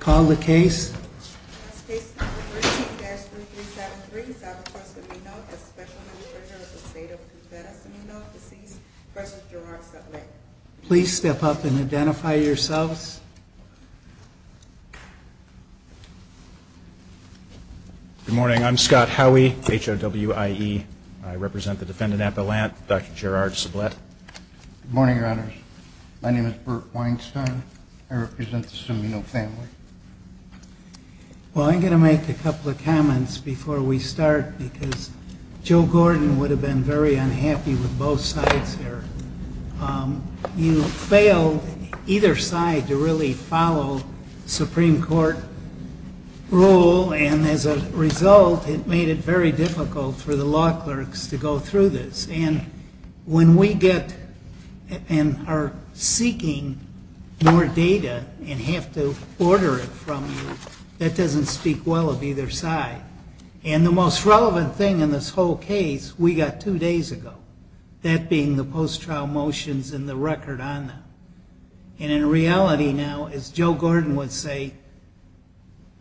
Call the case. Case number 13-3373, South Dakota Cimino, a Special Administrator of the State of Nevada, Cimino v. Gerard Sublette. Please step up and identify yourselves. Good morning. I'm Scott Howey, H-O-W-I-E. I represent the defendant at the Lant, Dr. Gerard Sublette. Good morning, Your Honors. My name is Bert Weinstein. I represent the Cimino family. Well, I'm going to make a couple of comments before we start, because Joe Gordon would have been very unhappy with both sides here. You failed either side to really follow Supreme Court rule, and as a result, it made it very difficult for the law clerks to go through this. And when we get and are seeking more data and have to order it from you, that doesn't speak well of either side. And the most relevant thing in this whole case we got two days ago, that being the post-trial motions and the record on them. And in reality now, as Joe Gordon would say,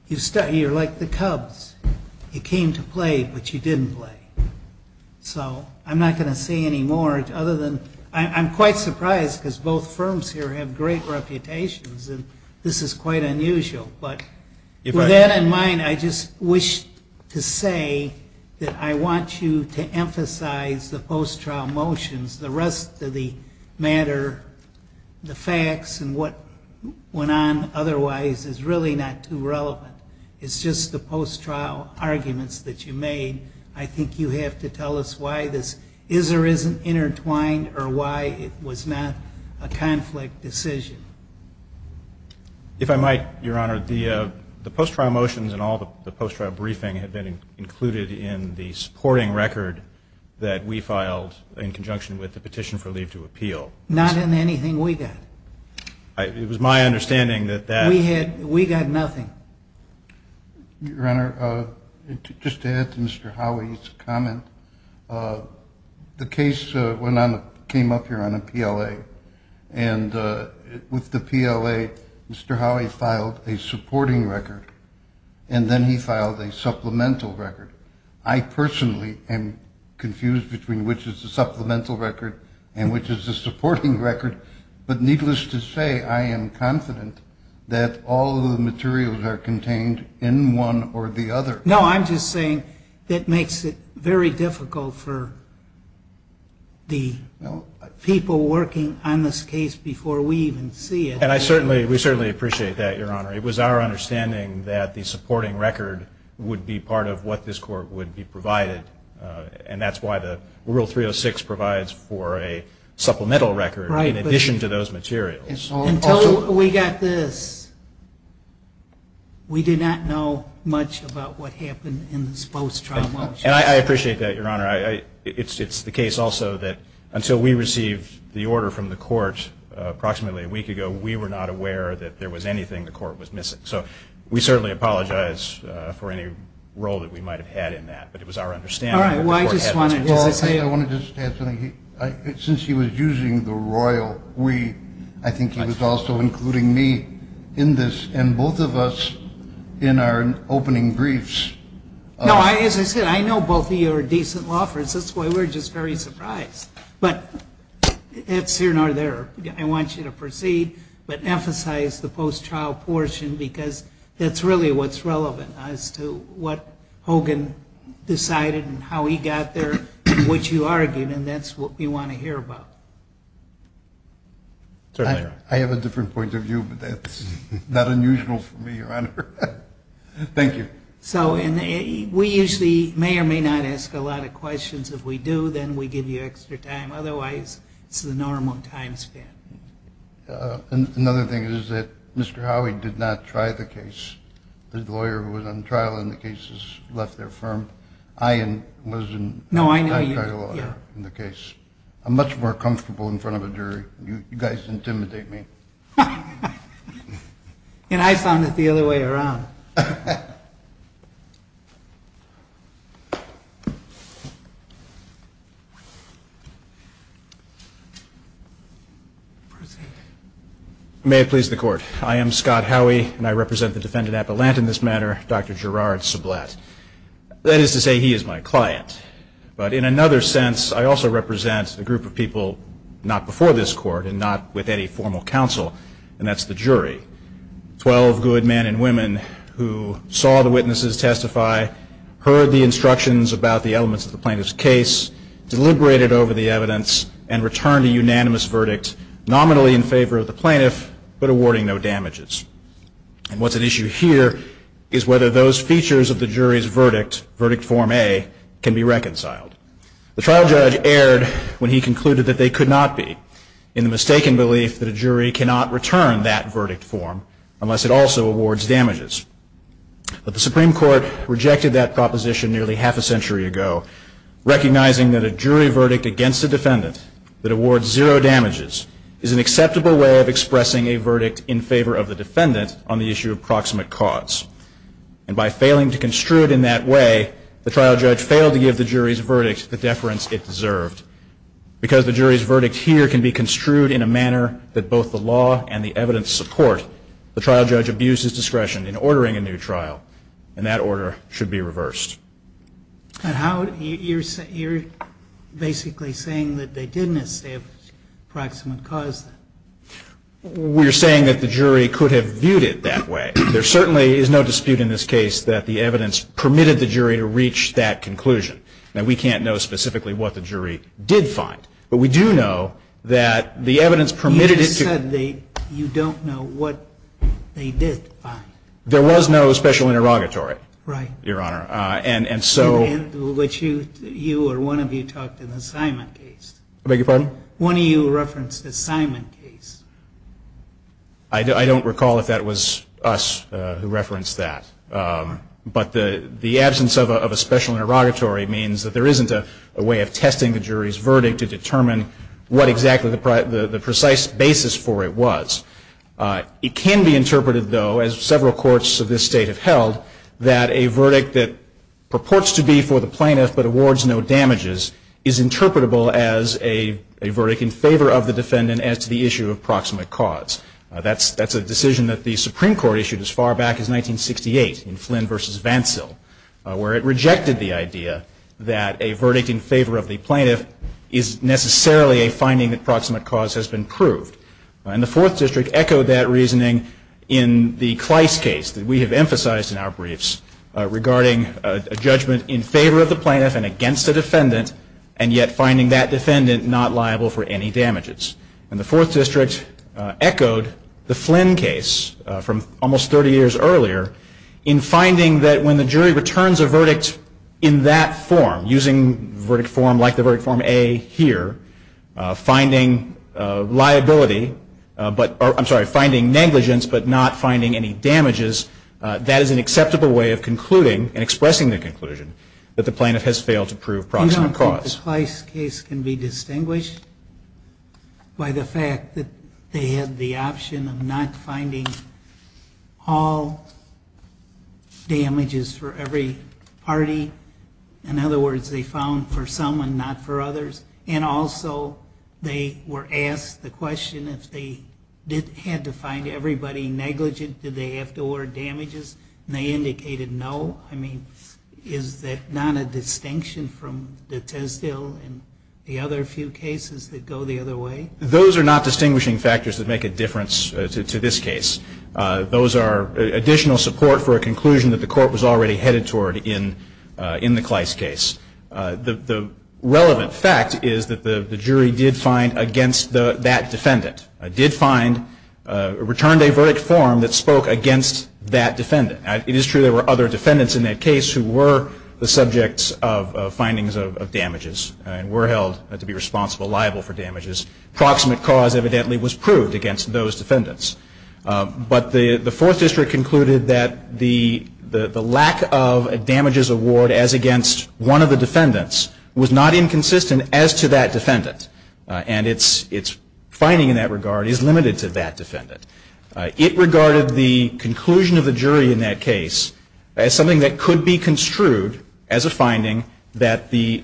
you're like the Cubs. You came to play, but you didn't play. So I'm not going to say any more other than I'm quite surprised, because both firms here have great reputations, and this is quite unusual. But with that in mind, I just wish to say that I want you to emphasize the post-trial motions. The rest of the matter, the facts and what went on otherwise is really not too relevant. It's just the post-trial arguments that you made. I think you have to tell us why this is or isn't intertwined or why it was not a conflict decision. If I might, Your Honor, the post-trial motions and all the post-trial briefing had been included in the supporting record that we filed in conjunction with the petition for leave to appeal. Not in anything we got. It was my understanding that that... We got nothing. Your Honor, just to add to Mr. Howey's comment, the case came up here on a PLA. And with the PLA, Mr. Howey filed a supporting record, and then he filed a supplemental record. I personally am confused between which is the supplemental record and which is the supporting record. But needless to say, I am confident that all of the materials are contained in one or the other. No, I'm just saying that makes it very difficult for the people working on this case before we even see it. And I certainly, we certainly appreciate that, Your Honor. It was our understanding that the supporting record would be part of what this Court would be provided. And that's why the Rule 306 provides for a supplemental record. Right. In addition to those materials. Until we got this. We did not know much about what happened in this post-trial motion. And I appreciate that, Your Honor. It's the case also that until we received the order from the Court approximately a week ago, we were not aware that there was anything the Court was missing. So we certainly apologize for any role that we might have had in that. But it was our understanding that the Court had... Well, I want to just add something. Since he was using the royal we, I think he was also including me in this. And both of us in our opening briefs... No, as I said, I know both of you are decent law firms. That's why we're just very surprised. But it's here nor there. I want you to proceed. But emphasize the post-trial portion because that's really what's relevant as to what Hogan decided and how he got there and what you argued. And that's what we want to hear about. I have a different point of view, but that's not unusual for me, Your Honor. Thank you. So we usually may or may not ask a lot of questions. If we do, then we give you extra time. Otherwise, it's the normal time span. Another thing is that Mr. Howey did not try the case. The lawyer who was on trial in the case has left their firm. I wasn't on trial in the case. I'm much more comfortable in front of a jury. You guys intimidate me. And I found it the other way around. May it please the Court. I am Scott Howey, and I represent the defendant, Appelant, in this matter, Dr. Gerard Soblat. That is to say, he is my client. But in another sense, I also represent a group of people not before this Court and not with any formal counsel, and that's the jury. Twelve good men and women who saw the witnesses testify, heard the instructions about the elements of the plaintiff's case, deliberated over the evidence, and returned a unanimous verdict, nominally in favor of the plaintiff but awarding no damages. And what's at issue here is whether those features of the jury's verdict, Verdict Form A, can be reconciled. The trial judge erred when he concluded that they could not be in the mistaken belief that a jury cannot return that verdict form unless it also awards damages. But the Supreme Court rejected that proposition nearly half a century ago, recognizing that a jury verdict against a defendant that awards zero damages is an acceptable way of expressing a verdict in favor of the defendant on the issue of proximate cause. And by failing to construe it in that way, the trial judge failed to give the jury's verdict the deference it deserved. Because the jury's verdict here can be construed in a manner that both the law and the evidence support, the trial judge abused his discretion in ordering a new trial, and that order should be reversed. And how, you're basically saying that they didn't establish proximate cause then? We're saying that the jury could have viewed it that way. There certainly is no dispute in this case that the evidence permitted the jury to reach that conclusion. Now, we can't know specifically what the jury did find. But we do know that the evidence permitted it to You just said you don't know what they did find. There was no special interrogatory. Right. Your Honor. And so You or one of you talked in the Simon case. I beg your pardon? One of you referenced the Simon case. I don't recall if that was us who referenced that. But the absence of a special interrogatory means that there isn't a way of testing the jury's verdict to determine what exactly the precise basis for it was. It can be interpreted, though, as several courts of this state have held, that a verdict that purports to be for the plaintiff but awards no damages is interpretable as a verdict in favor of the defendant as to the issue of proximate cause. That's a decision that the Supreme Court issued as far back as 1968 in Flynn v. Vancell, where it rejected the idea that a verdict in favor of the plaintiff is necessarily a finding that proximate cause has been proved. And the Fourth District echoed that reasoning in the Kleist case that we have in our briefs regarding a judgment in favor of the plaintiff and against the defendant, and yet finding that defendant not liable for any damages. And the Fourth District echoed the Flynn case from almost 30 years earlier in finding that when the jury returns a verdict in that form, using verdict form like the verdict form A here, finding liability, I'm sorry, finding negligence but not finding any damages, that is an acceptable way of concluding and expressing the conclusion that the plaintiff has failed to prove proximate cause. I don't think the Kleist case can be distinguished by the fact that they had the option of not finding all damages for every party. In other words, they found for some and not for others. And also they were asked the question if they had to find everybody negligent, did they have to award damages? And they indicated no. I mean, is that not a distinction from the Tesdill and the other few cases that go the other way? Those are not distinguishing factors that make a difference to this case. Those are additional support for a conclusion that the court was already headed toward in the Kleist case. The relevant fact is that the jury did find against that defendant, did find, returned a verdict form that spoke against that defendant. It is true there were other defendants in that case who were the subjects of findings of damages and were held to be responsible, liable for damages. Proximate cause evidently was proved against those defendants. But the Fourth District concluded that the lack of a damages award as against one of the defendants was not inconsistent as to that defendant. And its finding in that regard is limited to that defendant. It regarded the conclusion of the jury in that case as something that could be construed as a finding that the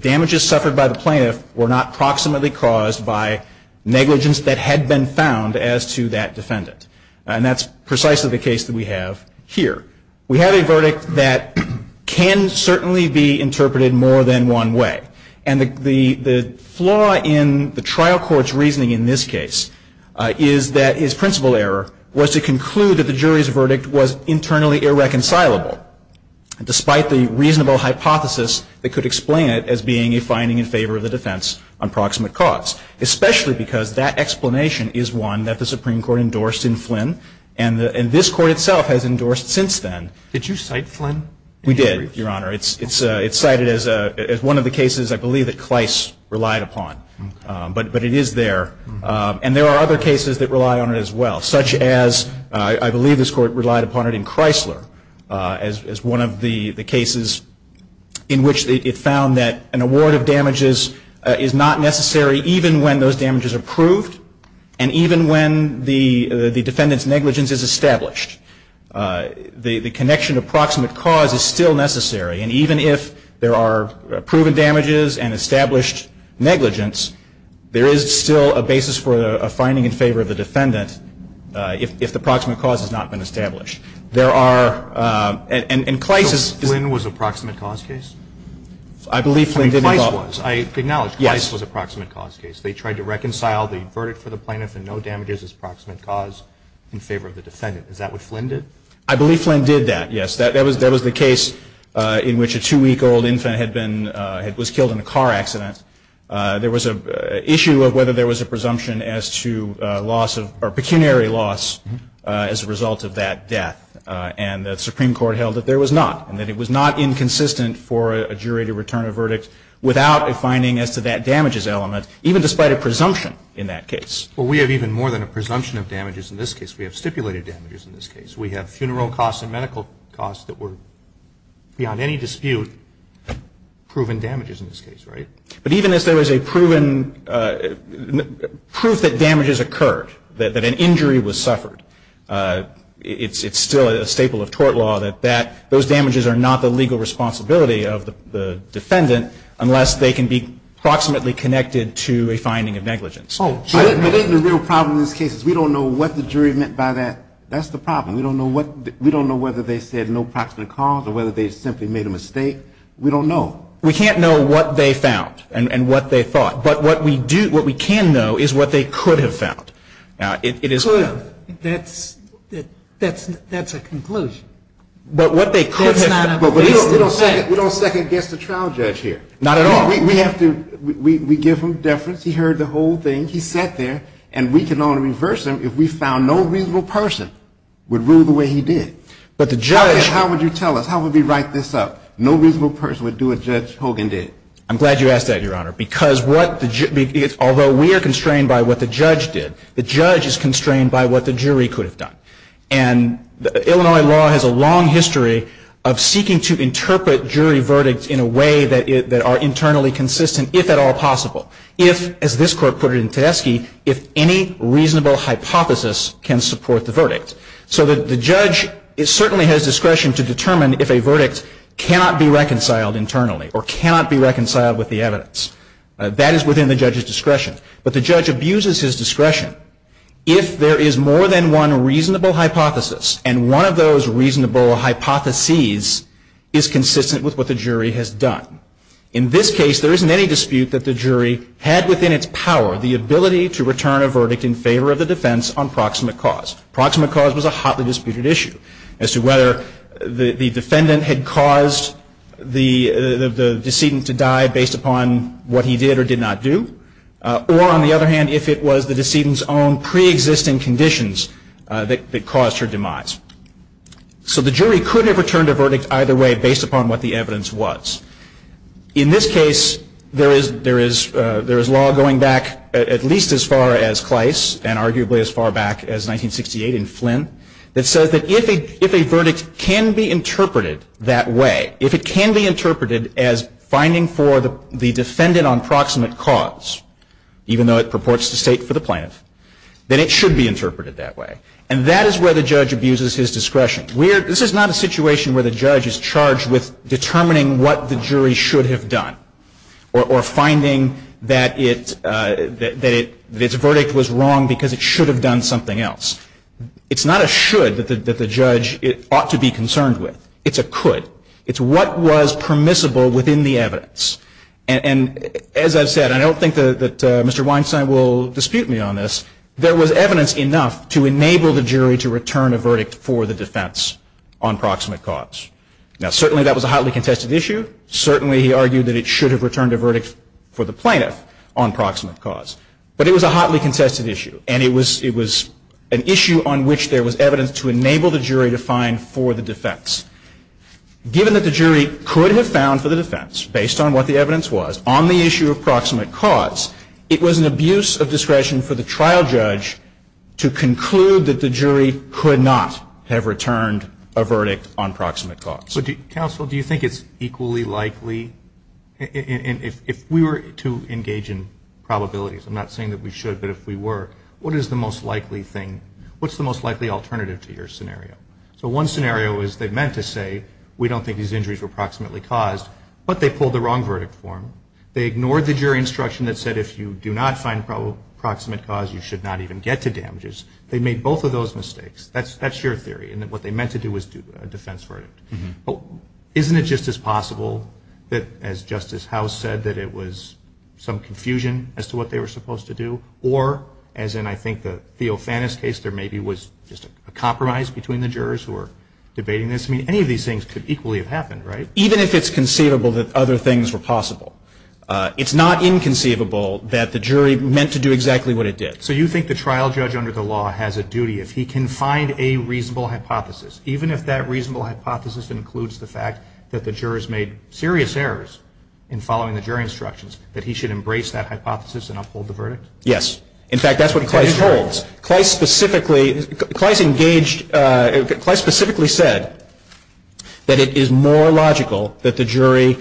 damages suffered by the plaintiff were not proximately caused by negligence that had been found as to that defendant. And that's precisely the case that we have here. We have a verdict that can certainly be interpreted more than one way. And the flaw in the trial court's reasoning in this case is that his principal error was to conclude that the jury's verdict was internally irreconcilable, despite the reasonable hypothesis that could explain it as being a finding in favor of the defense on proximate cause, especially because that explanation is one that the Supreme Court endorsed in Flynn. And this Court itself has endorsed since then. Did you cite Flynn? We did, Your Honor. It's cited as one of the cases I believe that Kleist relied upon. But it is there. And there are other cases that rely on it as well, such as I believe this Court relied upon it in Chrysler as one of the cases in which it found that an award of damages is not necessary even when those damages are proved and even when the defendant's negligence is established. The connection to proximate cause is still necessary. And even if there are proven damages and established negligence, there is still a basis for a finding in favor of the defendant if the proximate cause has not been established. There are – and Kleist is – So Flynn was a proximate cause case? I believe Flynn did involve – I mean, Kleist was. I acknowledge Kleist was a proximate cause case. They tried to reconcile the verdict for the plaintiff and no damages as proximate cause in favor of the defendant. Is that what Flynn did? I believe Flynn did that, yes. That was the case in which a two-week-old infant had been – was killed in a car accident. There was an issue of whether there was a presumption as to loss of – or pecuniary loss as a result of that death. And the Supreme Court held that there was not and that it was not inconsistent for a jury to return a verdict without a finding as to that damages element, even despite a presumption in that case. Well, we have even more than a presumption of damages in this case. We have stipulated damages in this case. We have funeral costs and medical costs that were, beyond any dispute, proven damages in this case, right? But even as there was a proven – proof that damages occurred, that an injury was suffered, it's still a staple of tort law that those damages are not the legal to a finding of negligence. Oh, sure. But isn't the real problem in this case is we don't know what the jury meant by that. That's the problem. We don't know what – we don't know whether they said no proximate cause or whether they simply made a mistake. We don't know. We can't know what they found and what they thought. But what we do – what we can know is what they could have found. It is – Could have. That's – that's a conclusion. That's not a – But we don't second-guess the trial judge here. Not at all. We have to – we give him deference. He heard the whole thing. He sat there. And we can only reverse him if we found no reasonable person would rule the way he did. But the judge – How would you tell us? How would we write this up? No reasonable person would do what Judge Hogan did. I'm glad you asked that, Your Honor, because what the – although we are constrained by what the judge did, the judge is constrained by what the jury could have done. And Illinois law has a long history of seeking to interpret jury verdicts in a way that are internally consistent, if at all possible. If, as this Court put it in Tedeschi, if any reasonable hypothesis can support the verdict. So the judge certainly has discretion to determine if a verdict cannot be reconciled internally or cannot be reconciled with the evidence. That is within the judge's discretion. But the judge abuses his discretion if there is more than one reasonable hypothesis and one of those reasonable hypotheses is consistent with what the jury has done. In this case, there isn't any dispute that the jury had within its power the ability to return a verdict in favor of the defense on proximate cause. Proximate cause was a hotly disputed issue as to whether the defendant had caused the decedent to die based upon what he did or did not do. Or, on the other hand, if it was the decedent's own preexisting conditions that caused her demise. So the jury could have returned a verdict either way based upon what the evidence was. In this case, there is law going back at least as far as Clice and arguably as far back as 1968 in Flynn that says that if a verdict can be interpreted that way, if it can be interpreted as finding for the defendant on proximate cause, even though it purports to state for the plaintiff, then it should be interpreted that way. And that is where the judge abuses his discretion. This is not a situation where the judge is charged with determining what the jury should have done or finding that its verdict was wrong because it should have done something else. It's not a should that the judge ought to be concerned with. It's a could. It's what was permissible within the evidence. And as I've said, I don't think that Mr. Weinstein will dispute me on this. There was evidence enough to enable the jury to return a verdict for the defense on proximate cause. Now, certainly that was a hotly contested issue. Certainly he argued that it should have returned a verdict for the plaintiff on proximate cause. But it was a hotly contested issue. And it was an issue on which there was evidence to enable the jury to find for the defense. Given that the jury could have found for the defense based on what the evidence was on the issue of proximate cause, it was an abuse of discretion for the trial judge to conclude that the jury could not have returned a verdict on proximate cause. But, Counsel, do you think it's equally likely? If we were to engage in probabilities, I'm not saying that we should, but if we were, what is the most likely thing? What's the most likely alternative to your scenario? So one scenario is they meant to say we don't think these injuries were proximately caused, but they pulled the wrong verdict for them. They ignored the jury instruction that said if you do not find proximate cause, you should not even get to damages. They made both of those mistakes. That's your theory, in that what they meant to do was do a defense verdict. But isn't it just as possible that, as Justice House said, that it was some confusion as to what they were supposed to do? Or, as in I think the Theofanis case, there maybe was just a compromise between the jurors who were debating this. I mean, any of these things could equally have happened, right? Even if it's conceivable that other things were possible. It's not inconceivable that the jury meant to do exactly what it did. So you think the trial judge under the law has a duty, if he can find a reasonable hypothesis, even if that reasonable hypothesis includes the fact that the jurors made serious errors in following the jury instructions, that he should embrace that hypothesis and uphold the verdict? Yes. In fact, that's what Kleist holds. Kleist specifically said that it is more logical that the jury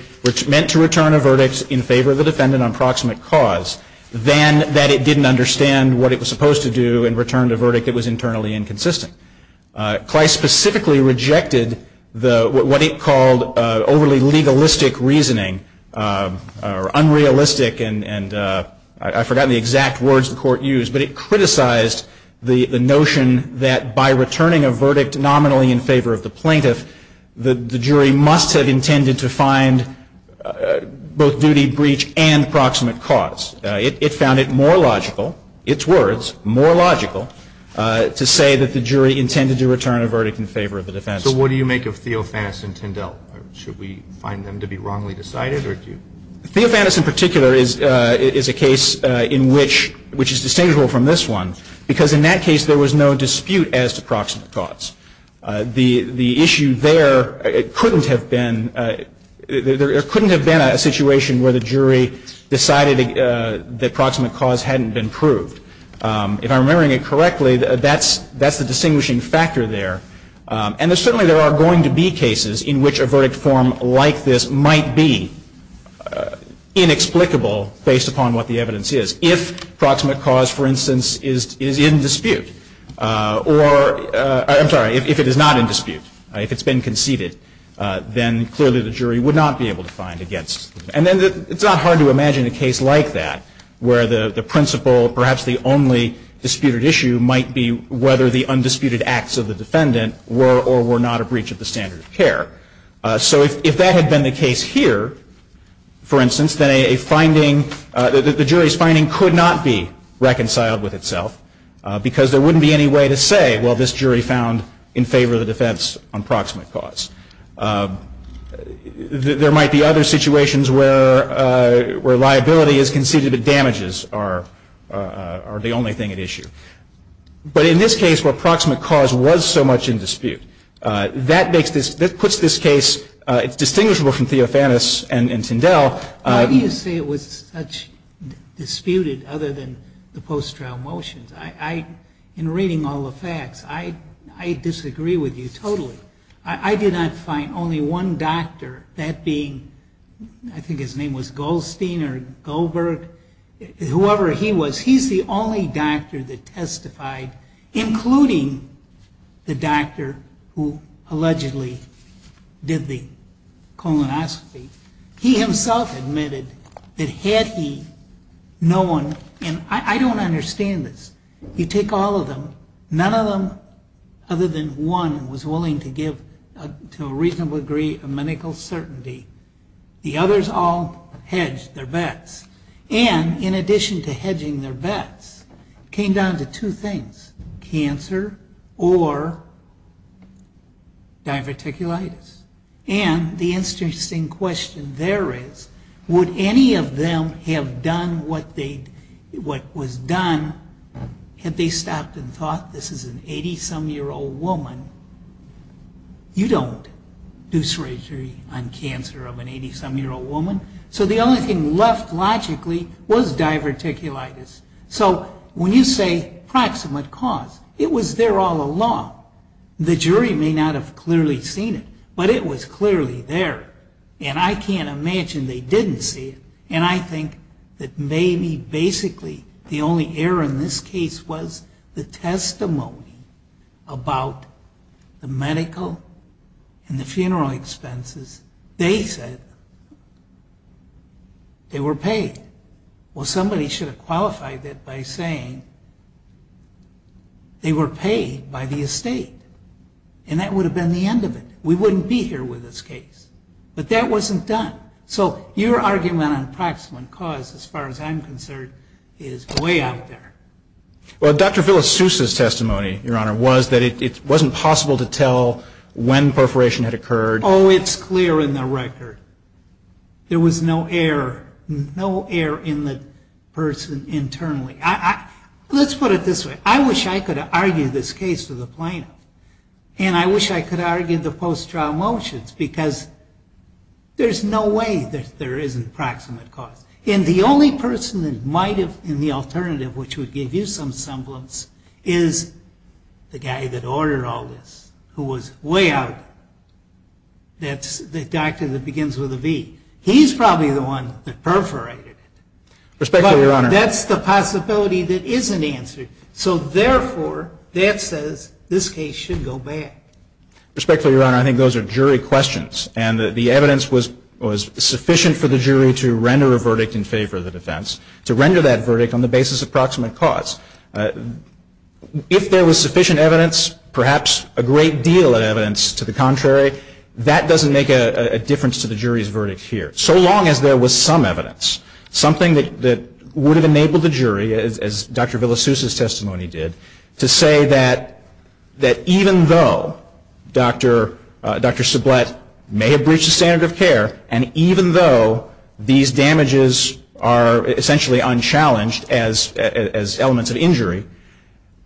meant to return a verdict in favor of the defendant on proximate cause than that it didn't understand what it was supposed to do and returned a verdict that was internally inconsistent. Kleist specifically rejected what he called overly legalistic reasoning, or unrealistic, and I've forgotten the exact words the Court used, but it criticized the notion that by returning a verdict nominally in favor of the plaintiff, the jury must have intended to find both duty, breach, and proximate cause. It found it more logical, its words, more logical, to say that the jury intended to return a verdict in favor of the defense. So what do you make of Theofanis and Tyndall? Should we find them to be wrongly decided, or do you? Theofanis in particular is a case in which, which is distinguishable from this one, because in that case there was no dispute as to proximate cause. The issue there, it couldn't have been, there couldn't have been a situation where the jury decided that proximate cause hadn't been proved. If I'm remembering it correctly, that's the distinguishing factor there. And certainly there are going to be cases in which a verdict form like this might be inexplicable based upon what the evidence is. If proximate cause, for instance, is in dispute or, I'm sorry, if it is not in dispute, if it's been conceded, then clearly the jury would not be able to find against it. And then it's not hard to imagine a case like that where the principle, perhaps the only disputed issue, might be whether the undisputed acts of the defendant were or were not a breach of the standard of care. So if that had been the case here, for instance, then a finding, the jury's finding could not be reconciled with itself because there wouldn't be any way to say, well, this jury found in favor of the defense on proximate cause. There might be other situations where liability is conceded but damages are the only thing at issue. But in this case where proximate cause was so much in dispute, that makes this, that puts this case, it's distinguishable from Theofanis and Tyndell. Why do you say it was such disputed other than the post-trial motions? In reading all the facts, I disagree with you totally. I did not find only one doctor, that being, I think his name was Goldstein or Goldberg, whoever he was, he's the only doctor that testified, including the doctor who allegedly did the colonoscopy. He himself admitted that had he known, and I don't understand this, you take all of them, none of them other than one was willing to give to a reasonable degree of medical certainty. The others all hedged their bets. And in addition to hedging their bets, it came down to two things, cancer or diverticulitis. And the interesting question there is, would any of them have done what they, what was done, had they stopped and thought, this is an 80-some year old woman, you don't do surgery on cancer of an 80-some year old woman. So the only thing left logically was diverticulitis. So when you say proximate cause, it was there all along. The jury may not have clearly seen it, but it was clearly there. And I can't imagine they didn't see it. And I think that maybe basically the only error in this case was the testimony about the medical and the funeral expenses. They said they were paid. Well, somebody should have qualified that by saying they were paid by the estate. And that would have been the end of it. We wouldn't be here with this case. But that wasn't done. So your argument on proximate cause, as far as I'm concerned, is way out there. Well, Dr. Villasusa's testimony, Your Honor, was that it wasn't possible to tell when perforation had occurred. Oh, it's clear in the record. There was no error. No error in the person internally. Let's put it this way. I wish I could argue this case for the plaintiff. And I wish I could argue the post-trial motions, because there's no way that there isn't proximate cause. And the only person that might have been the alternative, which would give you some semblance, is the guy that ordered all this, who was way out there. That's the doctor that begins with a V. He's probably the one that perforated it. Respectfully, Your Honor. But that's the possibility that isn't answered. So, therefore, that says this case should go back. Respectfully, Your Honor, I think those are jury questions. And the evidence was sufficient for the jury to render a verdict in favor of the defense, to render that verdict on the basis of proximate cause. If there was sufficient evidence, perhaps a great deal of evidence to the jury, that doesn't make a difference to the jury's verdict here. So long as there was some evidence, something that would have enabled the jury, as Dr. Villasusa's testimony did, to say that even though Dr. Sublette may have breached the standard of care, and even though these damages are essentially unchallenged as elements of injury,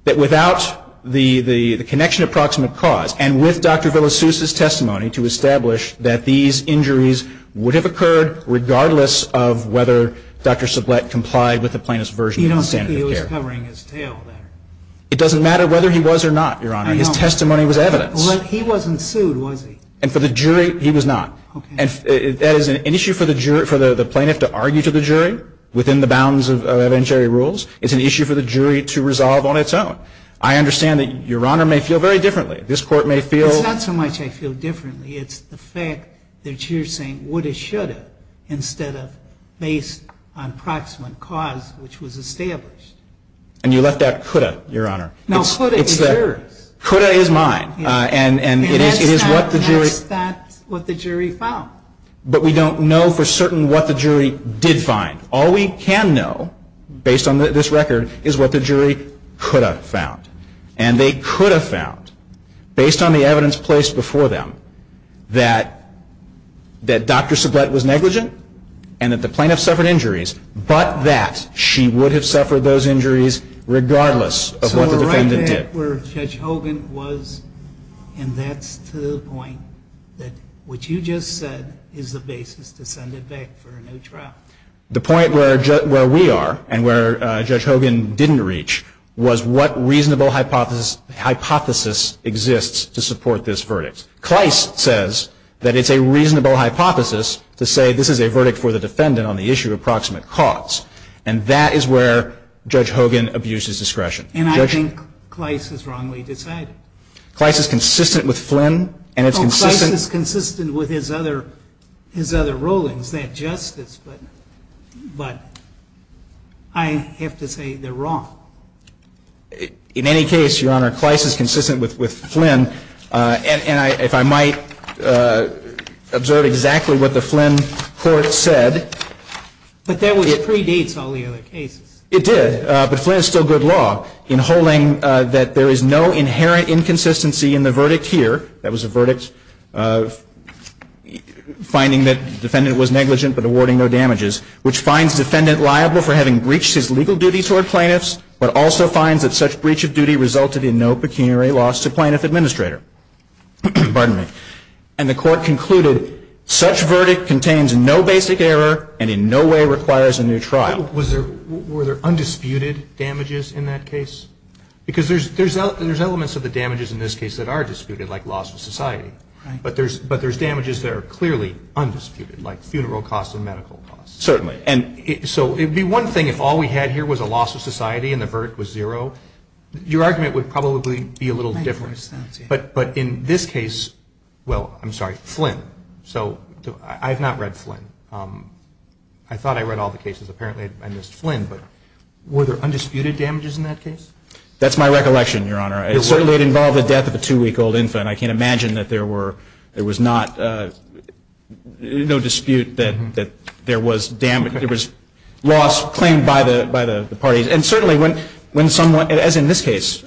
that without the connection of proximate cause, and with Dr. Villasusa's testimony to establish that these injuries would have occurred regardless of whether Dr. Sublette complied with the plaintiff's version of the standard of care. You don't think he was covering his tail there? It doesn't matter whether he was or not, Your Honor. His testimony was evidence. Well, he wasn't sued, was he? And for the jury, he was not. Okay. And that is an issue for the jury, for the plaintiff to argue to the jury within the bounds of evidentiary rules. It's an issue for the jury to resolve on its own. I understand that Your Honor may feel very differently. This Court may feel ---- It's not so much I feel differently. It's the fact that you're saying woulda, shoulda, instead of based on proximate cause, which was established. And you left out coulda, Your Honor. No, coulda is yours. Coulda is mine. And it is what the jury ---- And that's not what the jury found. But we don't know for certain what the jury did find. All we can know, based on this record, is what the jury coulda found. And they coulda found, based on the evidence placed before them, that Dr. Sublette was negligent and that the plaintiff suffered injuries, but that she would have suffered those injuries regardless of what the defendant did. So we're right back where Judge Hogan was, and that's to the point that what you just said is the basis to send it back for a new trial. The point where we are and where Judge Hogan didn't reach was what reasonable hypothesis exists to support this verdict. Kleist says that it's a reasonable hypothesis to say this is a verdict for the defendant on the issue of proximate cause. And that is where Judge Hogan abuses discretion. And I think Kleist has wrongly decided. Kleist is consistent with Flynn, and it's consistent ---- Justice, but I have to say they're wrong. In any case, Your Honor, Kleist is consistent with Flynn. And if I might observe exactly what the Flynn court said ---- But that predates all the other cases. It did. But Flynn is still good law in holding that there is no inherent inconsistency in the verdict here. That was a verdict finding that defendant was negligent but awarding no damages, which finds defendant liable for having breached his legal duties toward plaintiffs but also finds that such breach of duty resulted in no pecuniary loss to plaintiff administrator. Pardon me. And the court concluded such verdict contains no basic error and in no way requires a new trial. Were there undisputed damages in that case? Because there's elements of the damages in this case that are disputed, like loss of society. Right. But there's damages that are clearly undisputed, like funeral costs and medical costs. Certainly. So it would be one thing if all we had here was a loss of society and the verdict was zero. Your argument would probably be a little different. But in this case ---- Well, I'm sorry, Flynn. So I have not read Flynn. I thought I read all the cases. Apparently I missed Flynn. Were there undisputed damages in that case? That's my recollection, Your Honor. It certainly involved the death of a two-week-old infant. I can't imagine that there was no dispute that there was loss claimed by the parties. And certainly when someone, as in this case,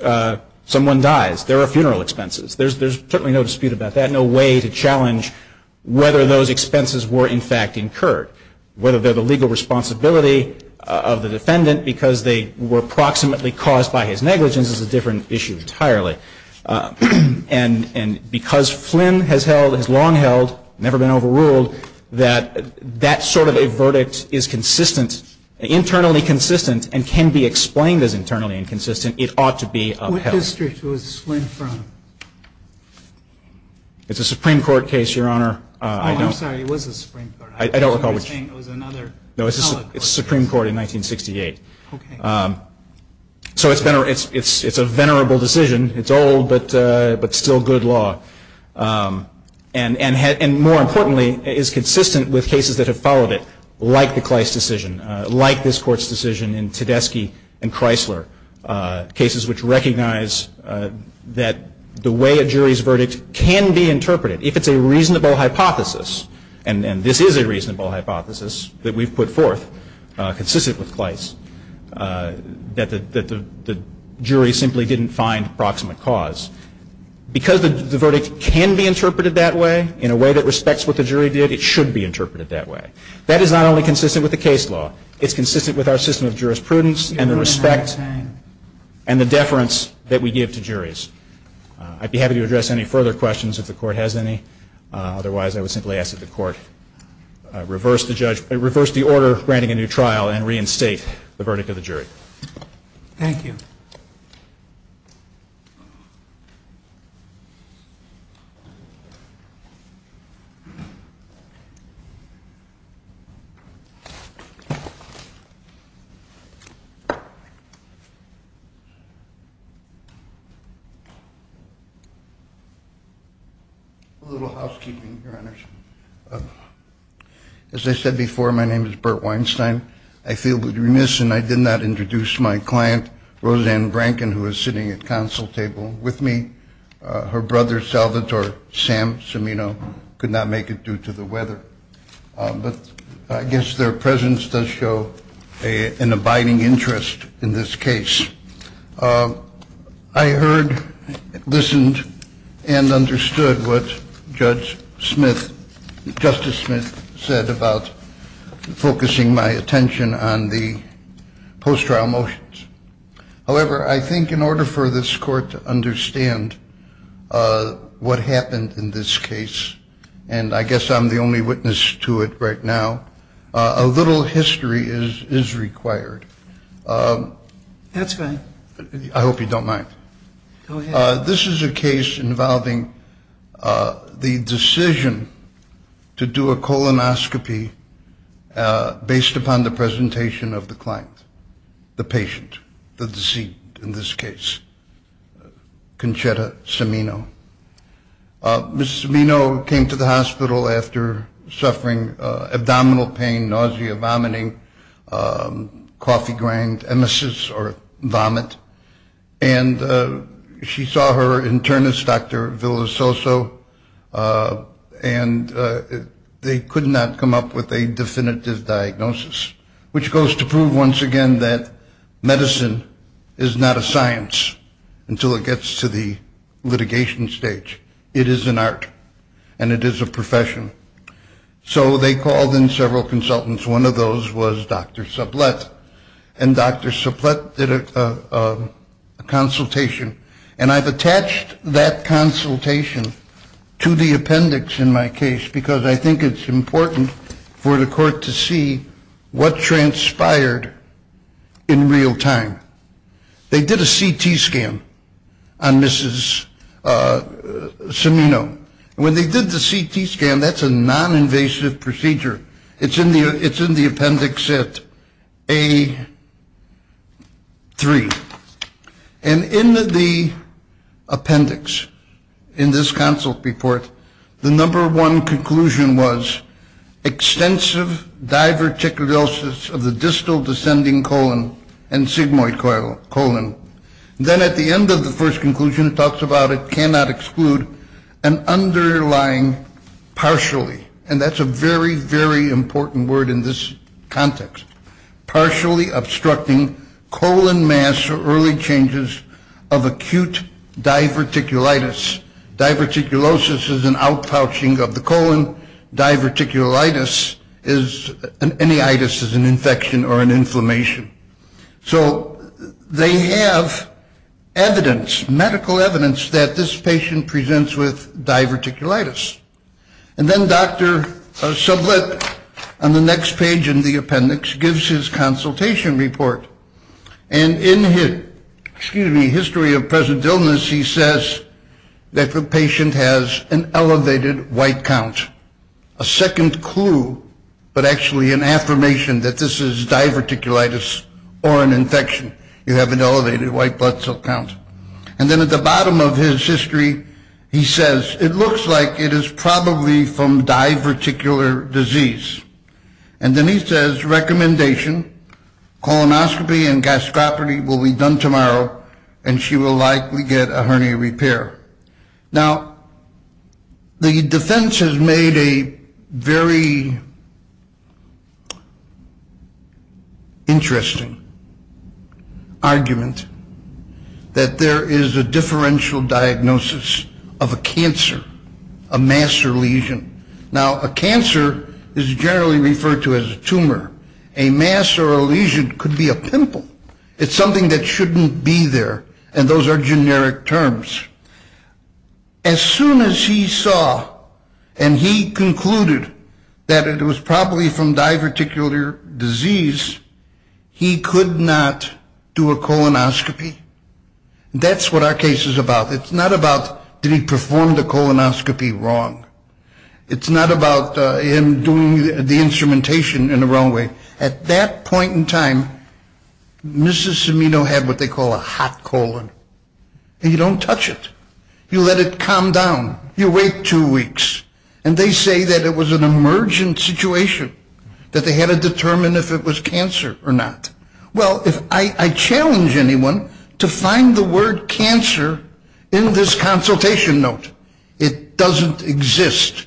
someone dies, there are funeral expenses. There's certainly no dispute about that, no way to challenge whether those expenses were in fact incurred, whether they're the legal responsibility of the defendant because they were approximately caused by his negligence. This is a different issue entirely. And because Flynn has held, has long held, never been overruled, that that sort of a verdict is consistent, internally consistent, and can be explained as internally inconsistent, it ought to be upheld. What district was Flynn from? It's a Supreme Court case, Your Honor. Oh, I'm sorry. It was the Supreme Court. I don't recall which. I thought you were saying it was another. No, it's the Supreme Court in 1968. Okay. So it's a venerable decision. It's old, but still good law. And more importantly, it is consistent with cases that have followed it, like the Kleist decision, like this Court's decision in Tedeschi and Chrysler, cases which recognize that the way a jury's verdict can be interpreted, if it's a reasonable hypothesis, and this is a reasonable hypothesis that we've put forth, consistent with Kleist, that the jury simply didn't find proximate cause, because the verdict can be interpreted that way in a way that respects what the jury did, it should be interpreted that way. That is not only consistent with the case law. It's consistent with our system of jurisprudence and the respect and the deference that we give to juries. I'd be happy to address any further questions if the Court has any. Otherwise, I would simply ask that the Court reverse the order granting a new trial and reinstate the verdict of the jury. Thank you. A little housekeeping, Your Honors. As I said before, my name is Bert Weinstein. I feel remiss in I did not introduce my client, Roseanne Brankin, who is sitting at the council table with me. Her brother, Salvatore Sam Cimino, could not make it due to the weather. But I guess their presence does show an abiding interest in this case. I heard, listened, and understood what Judge Smith, Justice Smith, said about focusing my attention on the post-trial motions. However, I think in order for this Court to understand what happened in this case, and I guess I'm the only witness to it right now, a little history is required. That's fine. I hope you don't mind. Go ahead. This is a case involving the decision to do a colonoscopy based upon the presentation of the client, the patient, the deceased in this case, Conchetta Cimino. Ms. Cimino came to the hospital after suffering abdominal pain, nausea, vomiting, coffee grind, emesis, or vomit. And she saw her internist, Dr. Villasoso, and they could not come up with a definitive diagnosis, which goes to prove once again that medicine is not a science until it gets to the litigation stage. It is an art, and it is a profession. So they called in several consultants. One of those was Dr. Sublette, and Dr. Sublette did a consultation. And I've attached that consultation to the appendix in my case because I think it's important for the Court to see what transpired in real time. They did a CT scan on Mrs. Cimino. When they did the CT scan, that's a noninvasive procedure. It's in the appendix at A3. And in the appendix in this consult report, the number one conclusion was extensive diverticulosis of the distal descending colon and sigmoid colon. Then at the end of the first conclusion, it talks about it cannot exclude an underlying partially, and that's a very, very important word in this context, partially obstructing colon mass early changes of acute diverticulitis. Diverticulosis is an outpouching of the colon. Diverticulitis is an infection or an inflammation. So they have evidence, medical evidence, that this patient presents with diverticulitis. And then Dr. Sublette, on the next page in the appendix, gives his consultation report. And in his history of present illness, he says that the patient has an elevated white count. A second clue, but actually an affirmation that this is diverticulitis or an infection. You have an elevated white blood cell count. And then at the bottom of his history, he says, it looks like it is probably from diverticular disease. And then he says, recommendation, colonoscopy and gastropathy will be done tomorrow, and she will likely get a hernia repair. Now, the defense has made a very interesting argument, that there is a differential diagnosis of a cancer, a mass or lesion. Now, a cancer is generally referred to as a tumor. A mass or a lesion could be a pimple. It's something that shouldn't be there, and those are generic terms. As soon as he saw and he concluded that it was probably from diverticular disease, he could not do a colonoscopy. That's what our case is about. It's not about did he perform the colonoscopy wrong. It's not about him doing the instrumentation in the wrong way. At that point in time, Mr. Cimino had what they call a hot colon. You don't touch it. You let it calm down. You wait two weeks. And they say that it was an emergent situation, that they had to determine if it was cancer or not. Well, I challenge anyone to find the word cancer in this consultation note. It doesn't exist.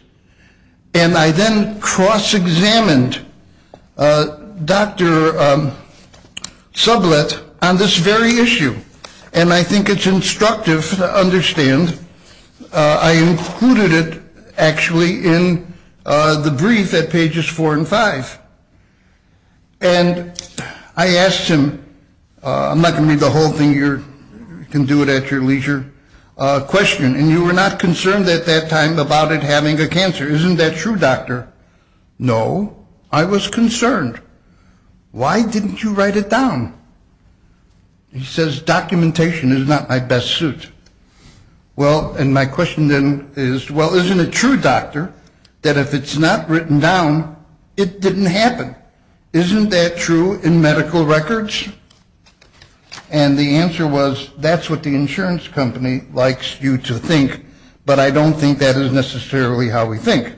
And I then cross-examined Dr. Sublett on this very issue. And I think it's instructive to understand. I included it actually in the brief at pages four and five. And I asked him, I'm not going to read the whole thing. You can do it at your leisure, a question. And you were not concerned at that time about it having a cancer. Isn't that true, doctor? No. I was concerned. Why didn't you write it down? He says documentation is not my best suit. Well, and my question then is, well, isn't it true, doctor, that if it's not written down, it didn't happen? Isn't that true in medical records? And the answer was, that's what the insurance company likes you to think, but I don't think that is necessarily how we think.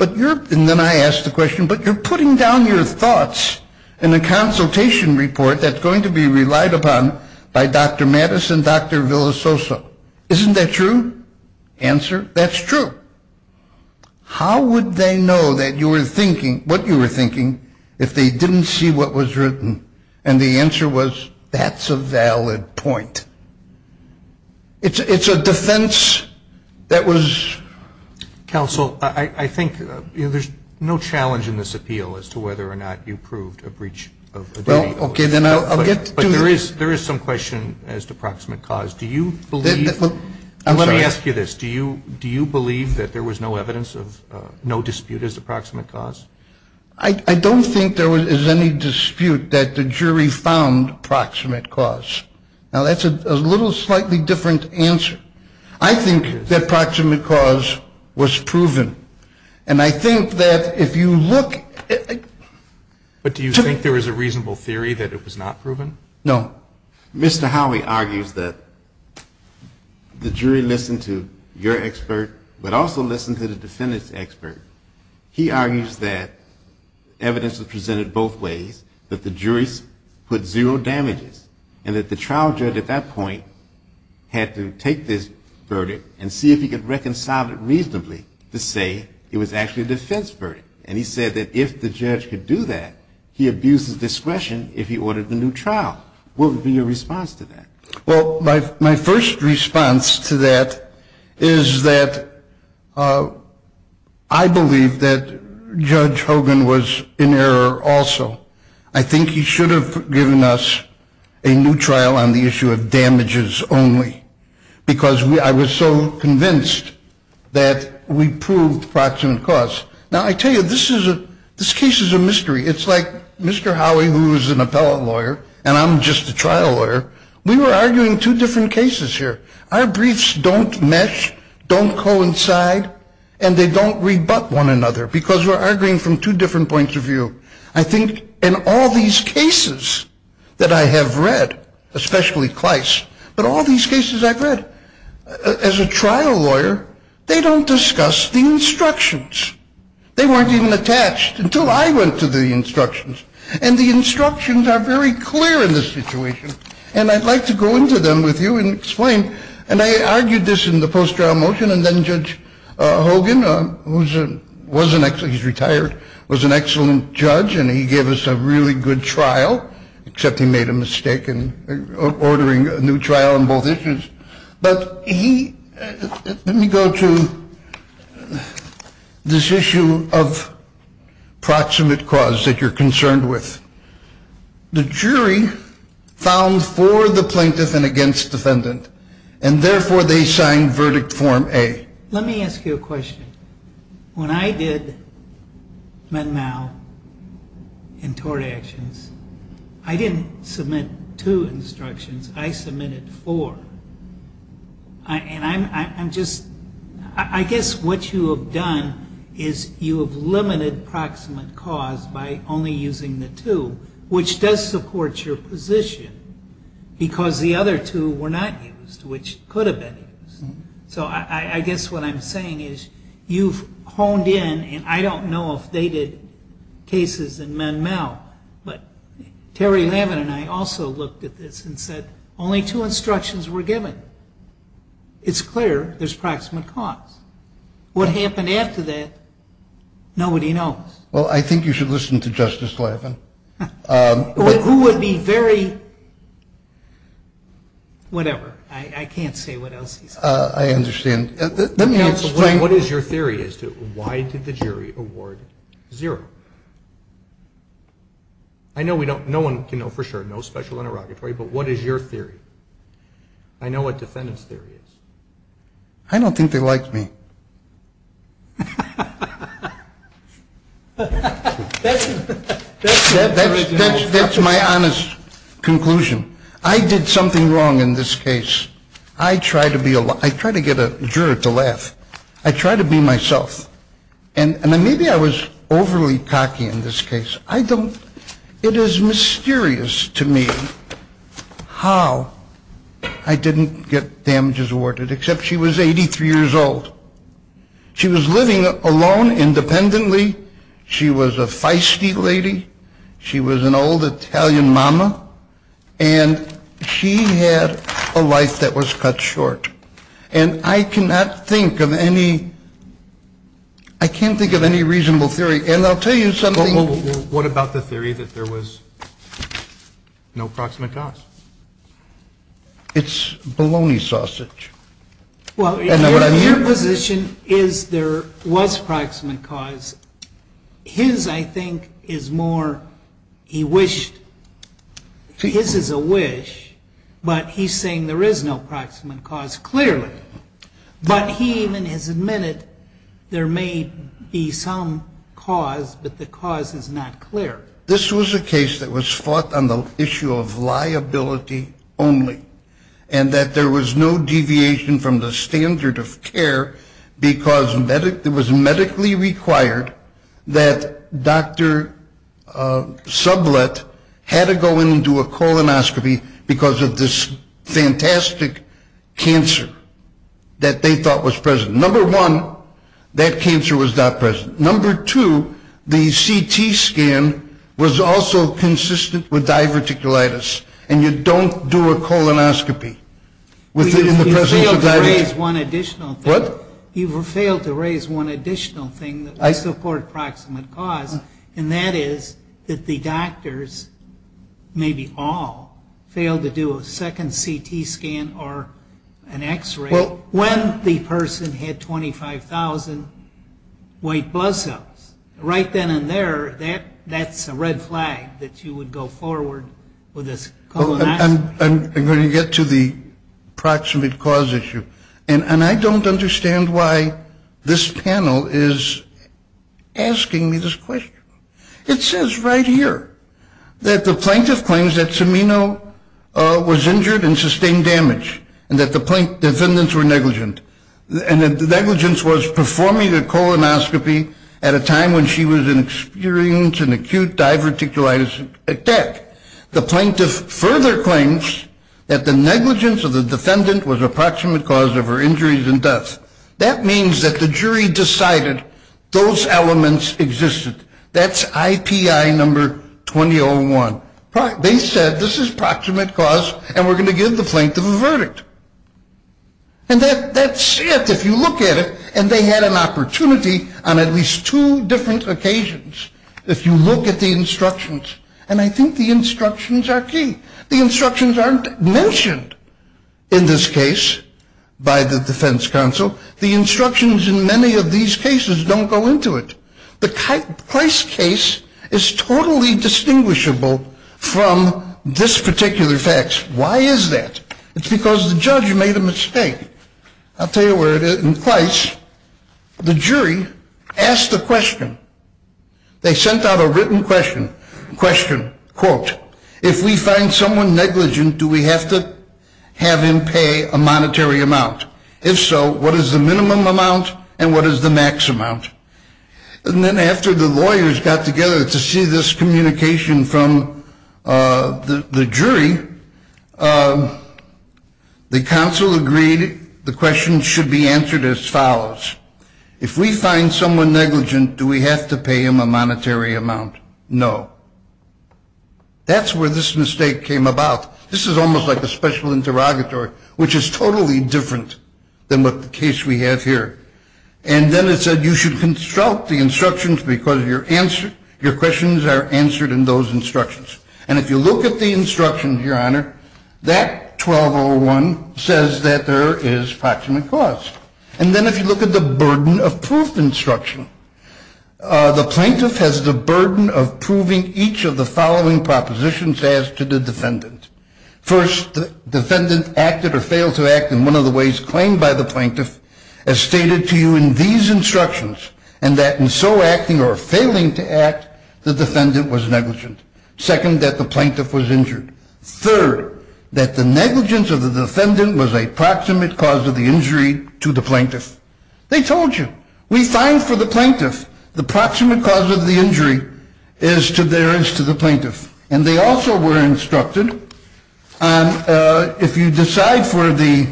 And then I asked the question, but you're putting down your thoughts in a consultation report that's going to be relied upon by Dr. Mattis and Dr. Villasoso. Isn't that true? Answer, that's true. And the answer was, that's a valid point. How would they know that you were thinking, what you were thinking, if they didn't see what was written? And the answer was, that's a valid point. It's a defense that was. Counsel, I think there's no challenge in this appeal as to whether or not you proved a breach of duty. Okay, then I'll get to. But there is some question as to proximate cause. Do you believe. Let me ask you this. Do you believe that there was no evidence of no dispute as to proximate cause? I don't think there is any dispute that the jury found proximate cause. Now, that's a little slightly different answer. I think that proximate cause was proven, and I think that if you look. But do you think there was a reasonable theory that it was not proven? No. Mr. Howey argues that the jury listened to your expert, but also listened to the defendant's expert. He argues that evidence was presented both ways, that the jury put zero damages, and that the trial judge at that point had to take this verdict and see if he could reconcile it reasonably to say it was actually a defense verdict. And he said that if the judge could do that, he abuses discretion if he ordered a new trial. What would be your response to that? Well, my first response to that is that I believe that Judge Hogan was in error also. I think he should have given us a new trial on the issue of damages only, because I was so convinced that we proved proximate cause. Now, I tell you, this case is a mystery. It's like Mr. Howey, who is an appellate lawyer, and I'm just a trial lawyer. We were arguing two different cases here. Our briefs don't mesh, don't coincide, and they don't rebut one another, because we're arguing from two different points of view. I think in all these cases that I have read, especially Kleist, but all these cases I've read, as a trial lawyer, they don't discuss the instructions. They weren't even attached until I went to the instructions, and the instructions are very clear in this situation. And I'd like to go into them with you and explain. And I argued this in the post-trial motion, and then Judge Hogan, who was an excellent ‑‑ he's retired, was an excellent judge, and he gave us a really good trial, except he made a mistake in ordering a new trial on both issues. But he ‑‑ let me go to this issue of proximate cause that you're concerned with. The jury found for the plaintiff and against defendant, and therefore they signed verdict form A. Let me ask you a question. When I did Med-Mal and tort actions, I didn't submit two instructions. I submitted four. And I'm just ‑‑ I guess what you have done is you have limited proximate cause by only using the two, which does support your position, because the other two were not used, which could have been used. So I guess what I'm saying is you've honed in, and I don't know if they did cases in Med-Mal, but Terry Lavin and I also looked at this and said only two instructions were given. It's clear there's proximate cause. What happened after that, nobody knows. Well, I think you should listen to Justice Lavin. Who would be very ‑‑ whatever. I can't say what else he said. I understand. Let me explain. Counsel, what is your theory as to why did the jury award zero? I know we don't ‑‑ no one can know for sure, no special interrogatory, but what is your theory? I know what defendant's theory is. I don't think they liked me. That's my honest conclusion. I did something wrong in this case. I try to be a ‑‑ I try to get a juror to laugh. I try to be myself. And maybe I was overly cocky in this case. I don't ‑‑ it is mysterious to me how I didn't get damages awarded, except she was 83 years old. She was living alone independently. She was a feisty lady. She was an old Italian mama. And she had a life that was cut short. And I cannot think of any ‑‑ I can't think of any reasonable theory. And I'll tell you something ‑‑ What about the theory that there was no proximate cause? It's bologna sausage. Well, your position is there was proximate cause. His, I think, is more he wished ‑‑ his is a wish, but he's saying there is no proximate cause clearly. But he even has admitted there may be some cause, but the cause is not clear. This was a case that was fought on the issue of liability only. And that there was no deviation from the standard of care because it was medically required that Dr. Sublett had to go in and do a colonoscopy because of this fantastic cancer that they thought was present. Number one, that cancer was not present. Number two, the CT scan was also consistent with diverticulitis. And you don't do a colonoscopy. You failed to raise one additional thing. What? You failed to raise one additional thing that I support proximate cause. And that is that the doctors, maybe all, failed to do a second CT scan or an X‑ray when the person had 25,000 white blood cells. Right then and there, that's a red flag that you would go forward with this colonoscopy. I'm going to get to the proximate cause issue. And I don't understand why this panel is asking me this question. It says right here that the plaintiff claims that Cimino was injured and sustained damage and that the defendants were negligent. And the negligence was performing a colonoscopy at a time when she was experiencing acute diverticulitis attack. The plaintiff further claims that the negligence of the defendant was a proximate cause of her injuries and death. That means that the jury decided those elements existed. That's IPI number 2001. They said this is proximate cause and we're going to give the plaintiff a verdict. And that's it, if you look at it. And they had an opportunity on at least two different occasions, if you look at the instructions. And I think the instructions are key. The instructions aren't mentioned in this case by the defense counsel. The instructions in many of these cases don't go into it. The Price case is totally distinguishable from this particular fax. Why is that? It's because the judge made a mistake. I'll tell you where it is. In Price, the jury asked a question. They sent out a written question, quote, if we find someone negligent, do we have to have him pay a monetary amount? If so, what is the minimum amount and what is the max amount? And then after the lawyers got together to see this communication from the jury, the counsel agreed the question should be answered as follows. If we find someone negligent, do we have to pay him a monetary amount? No. That's where this mistake came about. This is almost like a special interrogatory, which is totally different than what the case we have here. And then it said you should construct the instructions because your questions are answered in those instructions. And if you look at the instructions, Your Honor, that 1201 says that there is proximate cause. And then if you look at the burden of proof instruction, the plaintiff has the burden of proving each of the following propositions asked to the defendant. First, the defendant acted or failed to act in one of the ways claimed by the plaintiff as stated to you in these instructions, and that in so acting or failing to act, the defendant was negligent. Second, that the plaintiff was injured. Third, that the negligence of the defendant was a proximate cause of the injury to the plaintiff. They told you. We find for the plaintiff the proximate cause of the injury as to theirs to the plaintiff. And they also were instructed if you decide for the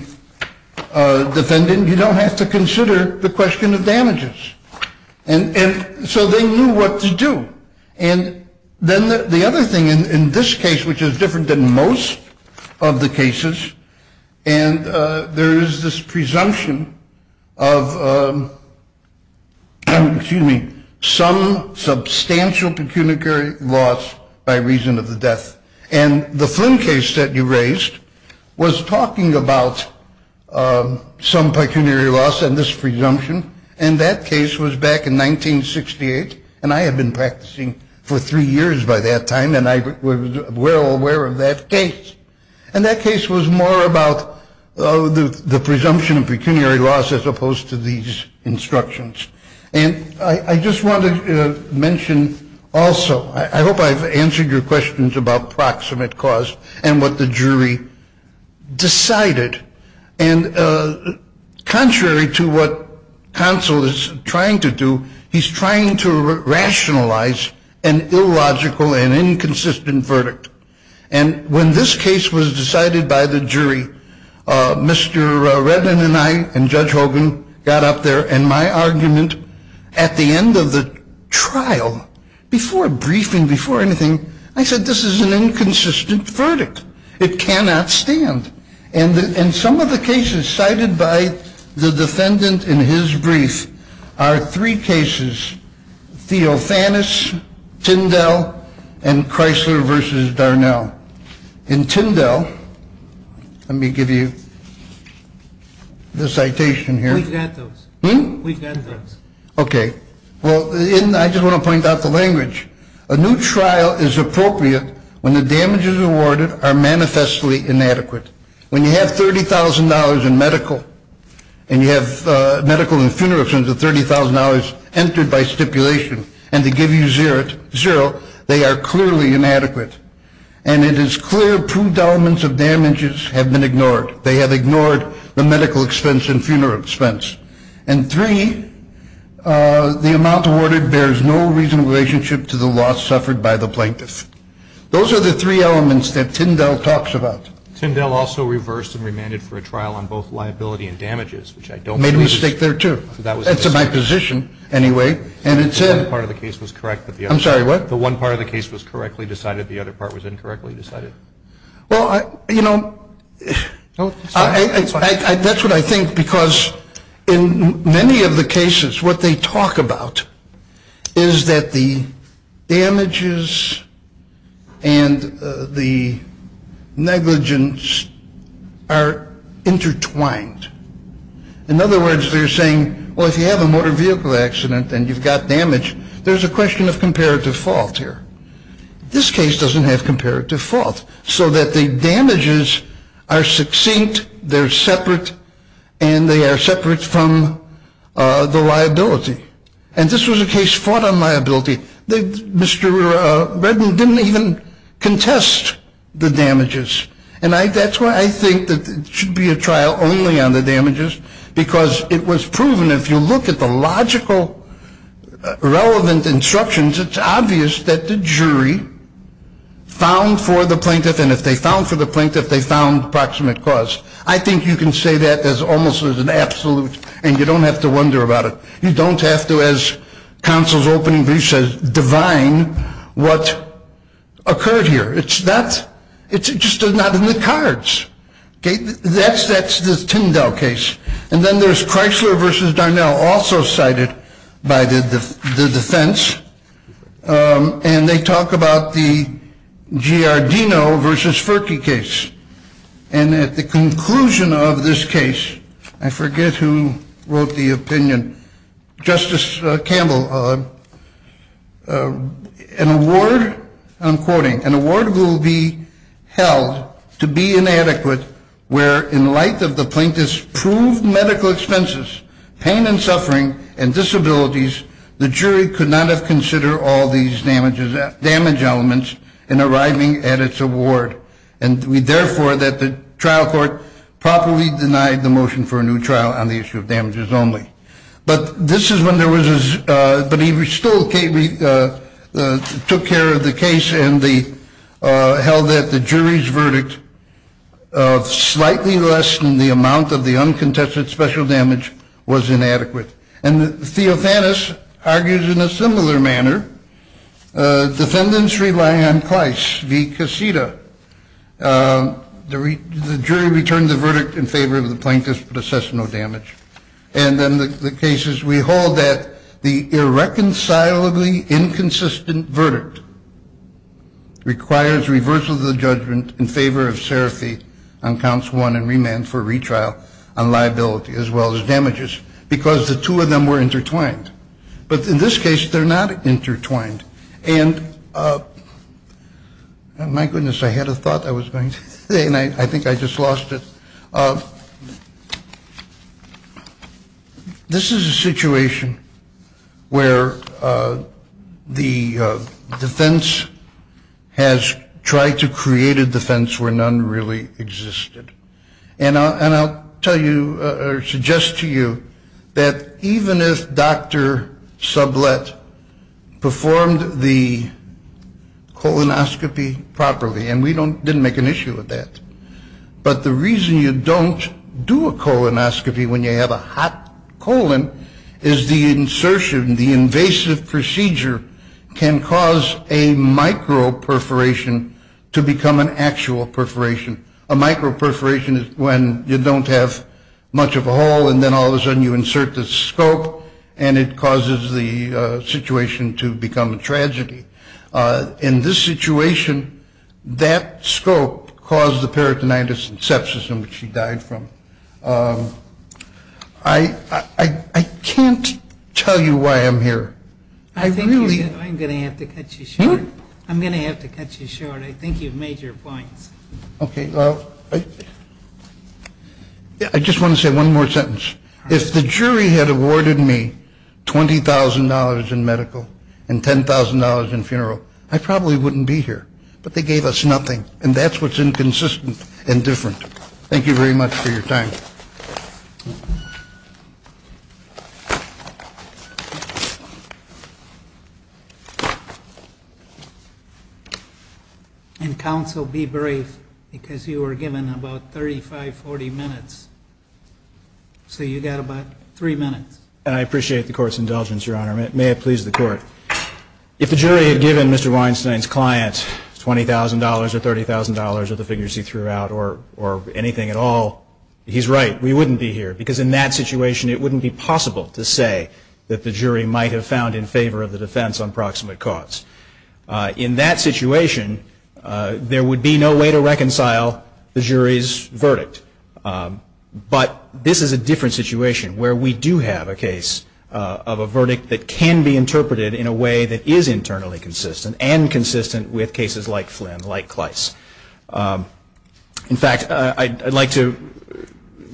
defendant, you don't have to consider the question of damages. And so they knew what to do. And then the other thing in this case, which is different than most of the cases, and there is this presumption of, excuse me, some substantial pecuniary loss by reason of the death. And the Flynn case that you raised was talking about some pecuniary loss and this presumption. And that case was back in 1968. And I had been practicing for three years by that time. And I was well aware of that case. And that case was more about the presumption of pecuniary loss as opposed to these instructions. And I just want to mention also, I hope I've answered your questions about proximate cause and what the jury decided. And contrary to what counsel is trying to do, he's trying to rationalize an illogical and inconsistent verdict. And when this case was decided by the jury, Mr. Redman and I and Judge Hogan got up there. And my argument at the end of the trial, before briefing, before anything, I said this is an inconsistent verdict. It cannot stand. And some of the cases cited by the defendant in his brief are three cases, Theofanis, Tyndall, and Chrysler v. Darnell. In Tyndall, let me give you the citation here. We've got those. Okay. Well, I just want to point out the language. A new trial is appropriate when the damages awarded are manifestly inadequate. When you have $30,000 in medical and funeral expenses of $30,000 entered by stipulation and they give you zero, they are clearly inadequate. And it is clear two elements of damages have been ignored. They have ignored the medical expense and funeral expense. And three, the amount awarded bears no reasonable relationship to the loss suffered by the plaintiff. Those are the three elements that Tyndall talks about. Tyndall also reversed and remanded for a trial on both liability and damages, which I don't believe is true. Made a mistake there, too. That's my position, anyway. And it said the one part of the case was correctly decided, the other part was incorrectly decided. Well, you know, that's what I think, because in many of the cases what they talk about is that the damages and the negligence are intertwined. In other words, they're saying, well, if you have a motor vehicle accident and you've got damage, there's a question of comparative fault here. This case doesn't have comparative fault, so that the damages are succinct, they're separate, and they are separate from the liability. And this was a case fought on liability. Mr. Redman didn't even contest the damages. And that's why I think that it should be a trial only on the damages, because it was proven, if you look at the logical relevant instructions, it's obvious that the jury found for the plaintiff, and if they found for the plaintiff, they found proximate cause. I think you can say that as almost as an absolute, and you don't have to wonder about it. You don't have to, as counsel's opening brief says, divine what occurred here. It's just not in the cards. That's the Tyndall case. And then there's Chrysler v. Darnell, also cited by the defense, and they talk about the Giardino v. Ferkey case. And at the conclusion of this case, I forget who wrote the opinion, Justice Campbell, an award, I'm quoting, an award will be held to be inadequate where, in light of the plaintiff's proved medical expenses, pain and suffering, and disabilities, the jury could not have considered all these damage elements in arriving at its award. And we, therefore, that the trial court properly denied the motion for a new trial on the issue of damages only. But this is when there was a ‑‑ but he still took care of the case and held that the jury's verdict of slightly less than the amount of the uncontested special damage was inadequate. And Theophanis argues in a similar manner, defendants relying on Chrysler v. Casita, the jury returned the verdict in favor of the plaintiff's processional damage. And then the case is we hold that the irreconcilably inconsistent verdict requires reversal of the judgment in favor of Serafee on counts one and remand for retrial on liability, as well as damages, because the two of them were intertwined. But in this case, they're not intertwined. And my goodness, I had a thought I was going to say, and I think I just lost it. This is a situation where the defense has tried to create a defense where none really existed. And I'll tell you or suggest to you that even if Dr. Sublette performed the colonoscopy properly, and we didn't make an issue of that, but the reason you don't do a colonoscopy when you have a hot colon is the insertion, the invasive procedure, can cause a micro-perforation to become an actual perforation. A micro-perforation is when you don't have much of a hole, and then all of a sudden you insert the scope, and it causes the situation to become a tragedy. In this situation, that scope caused the peritonitis and sepsis in which she died from. I can't tell you why I'm here. I really am. I'm going to have to cut you short. I'm going to have to cut you short. I think you've made your points. Okay. I just want to say one more sentence. If the jury had awarded me $20,000 in medical and $10,000 in funeral, I probably wouldn't be here. But they gave us nothing. And that's what's inconsistent and different. Thank you very much for your time. And, counsel, be brave, because you were given about 35, 40 minutes. So you got about three minutes. I appreciate the court's indulgence, Your Honor. May it please the court. If the jury had given Mr. Weinstein's client $20,000 or $30,000 or the figures he threw out or anything at all, he's right. We wouldn't be here, because in that situation it wouldn't be possible to say that the jury might have found in favor of the defense on proximate cause. In that situation, there would be no way to reconcile the jury's verdict. But this is a different situation where we do have a case of a verdict that can be interpreted in a way that is internally consistent and consistent with cases like Flynn, like Kleiss. In fact, I'd like to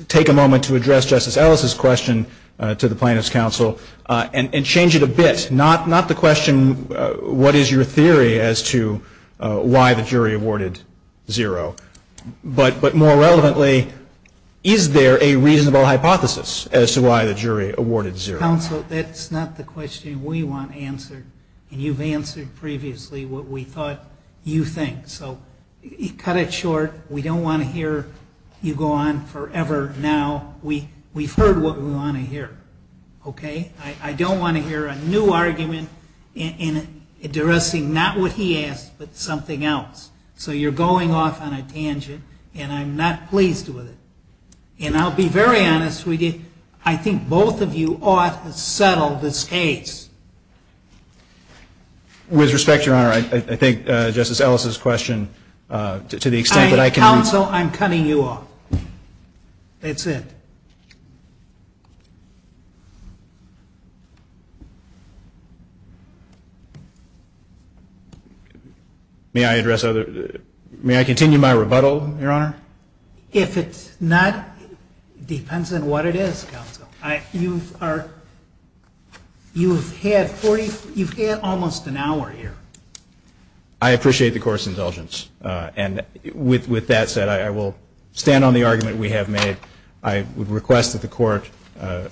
take a moment to address Justice Ellis's question to the plaintiff's counsel and change it a bit, not the question, what is your theory as to why the jury awarded zero, but more relevantly, is there a reasonable hypothesis as to why the jury awarded zero? Counsel, that's not the question we want answered, and you've answered previously what we thought you think. So cut it short. We don't want to hear you go on forever now. We've heard what we want to hear, okay? I don't want to hear a new argument addressing not what he asked but something else. So you're going off on a tangent, and I'm not pleased with it. And I'll be very honest with you. I think both of you ought to settle this case. With respect, Your Honor, I think Justice Ellis's question, to the extent that I can answer it. Counsel, I'm cutting you off. That's it. May I continue my rebuttal, Your Honor? If it's not, it depends on what it is, Counsel. You've had almost an hour here. I appreciate the court's indulgence. And with that said, I will stand on the argument we have made. I would request that the court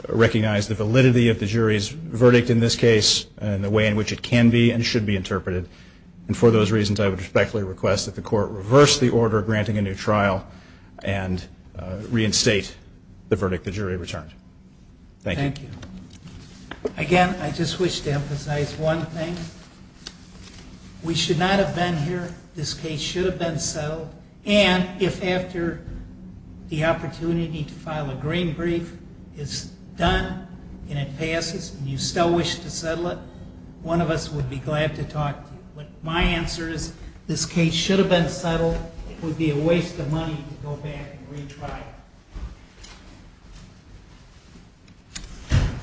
recognize the validity of the jury's verdict in this case and the way in which it can be and should be interpreted. And for those reasons, I would respectfully request that the court reverse the order granting a new trial and reinstate the verdict the jury returned. Thank you. Thank you. Again, I just wish to emphasize one thing. We should not have been here. This case should have been settled. And if after the opportunity to file a green brief, it's done and it passes and you still wish to settle it, one of us would be glad to talk to you. But my answer is this case should have been settled. It would be a waste of money to go back and retry it.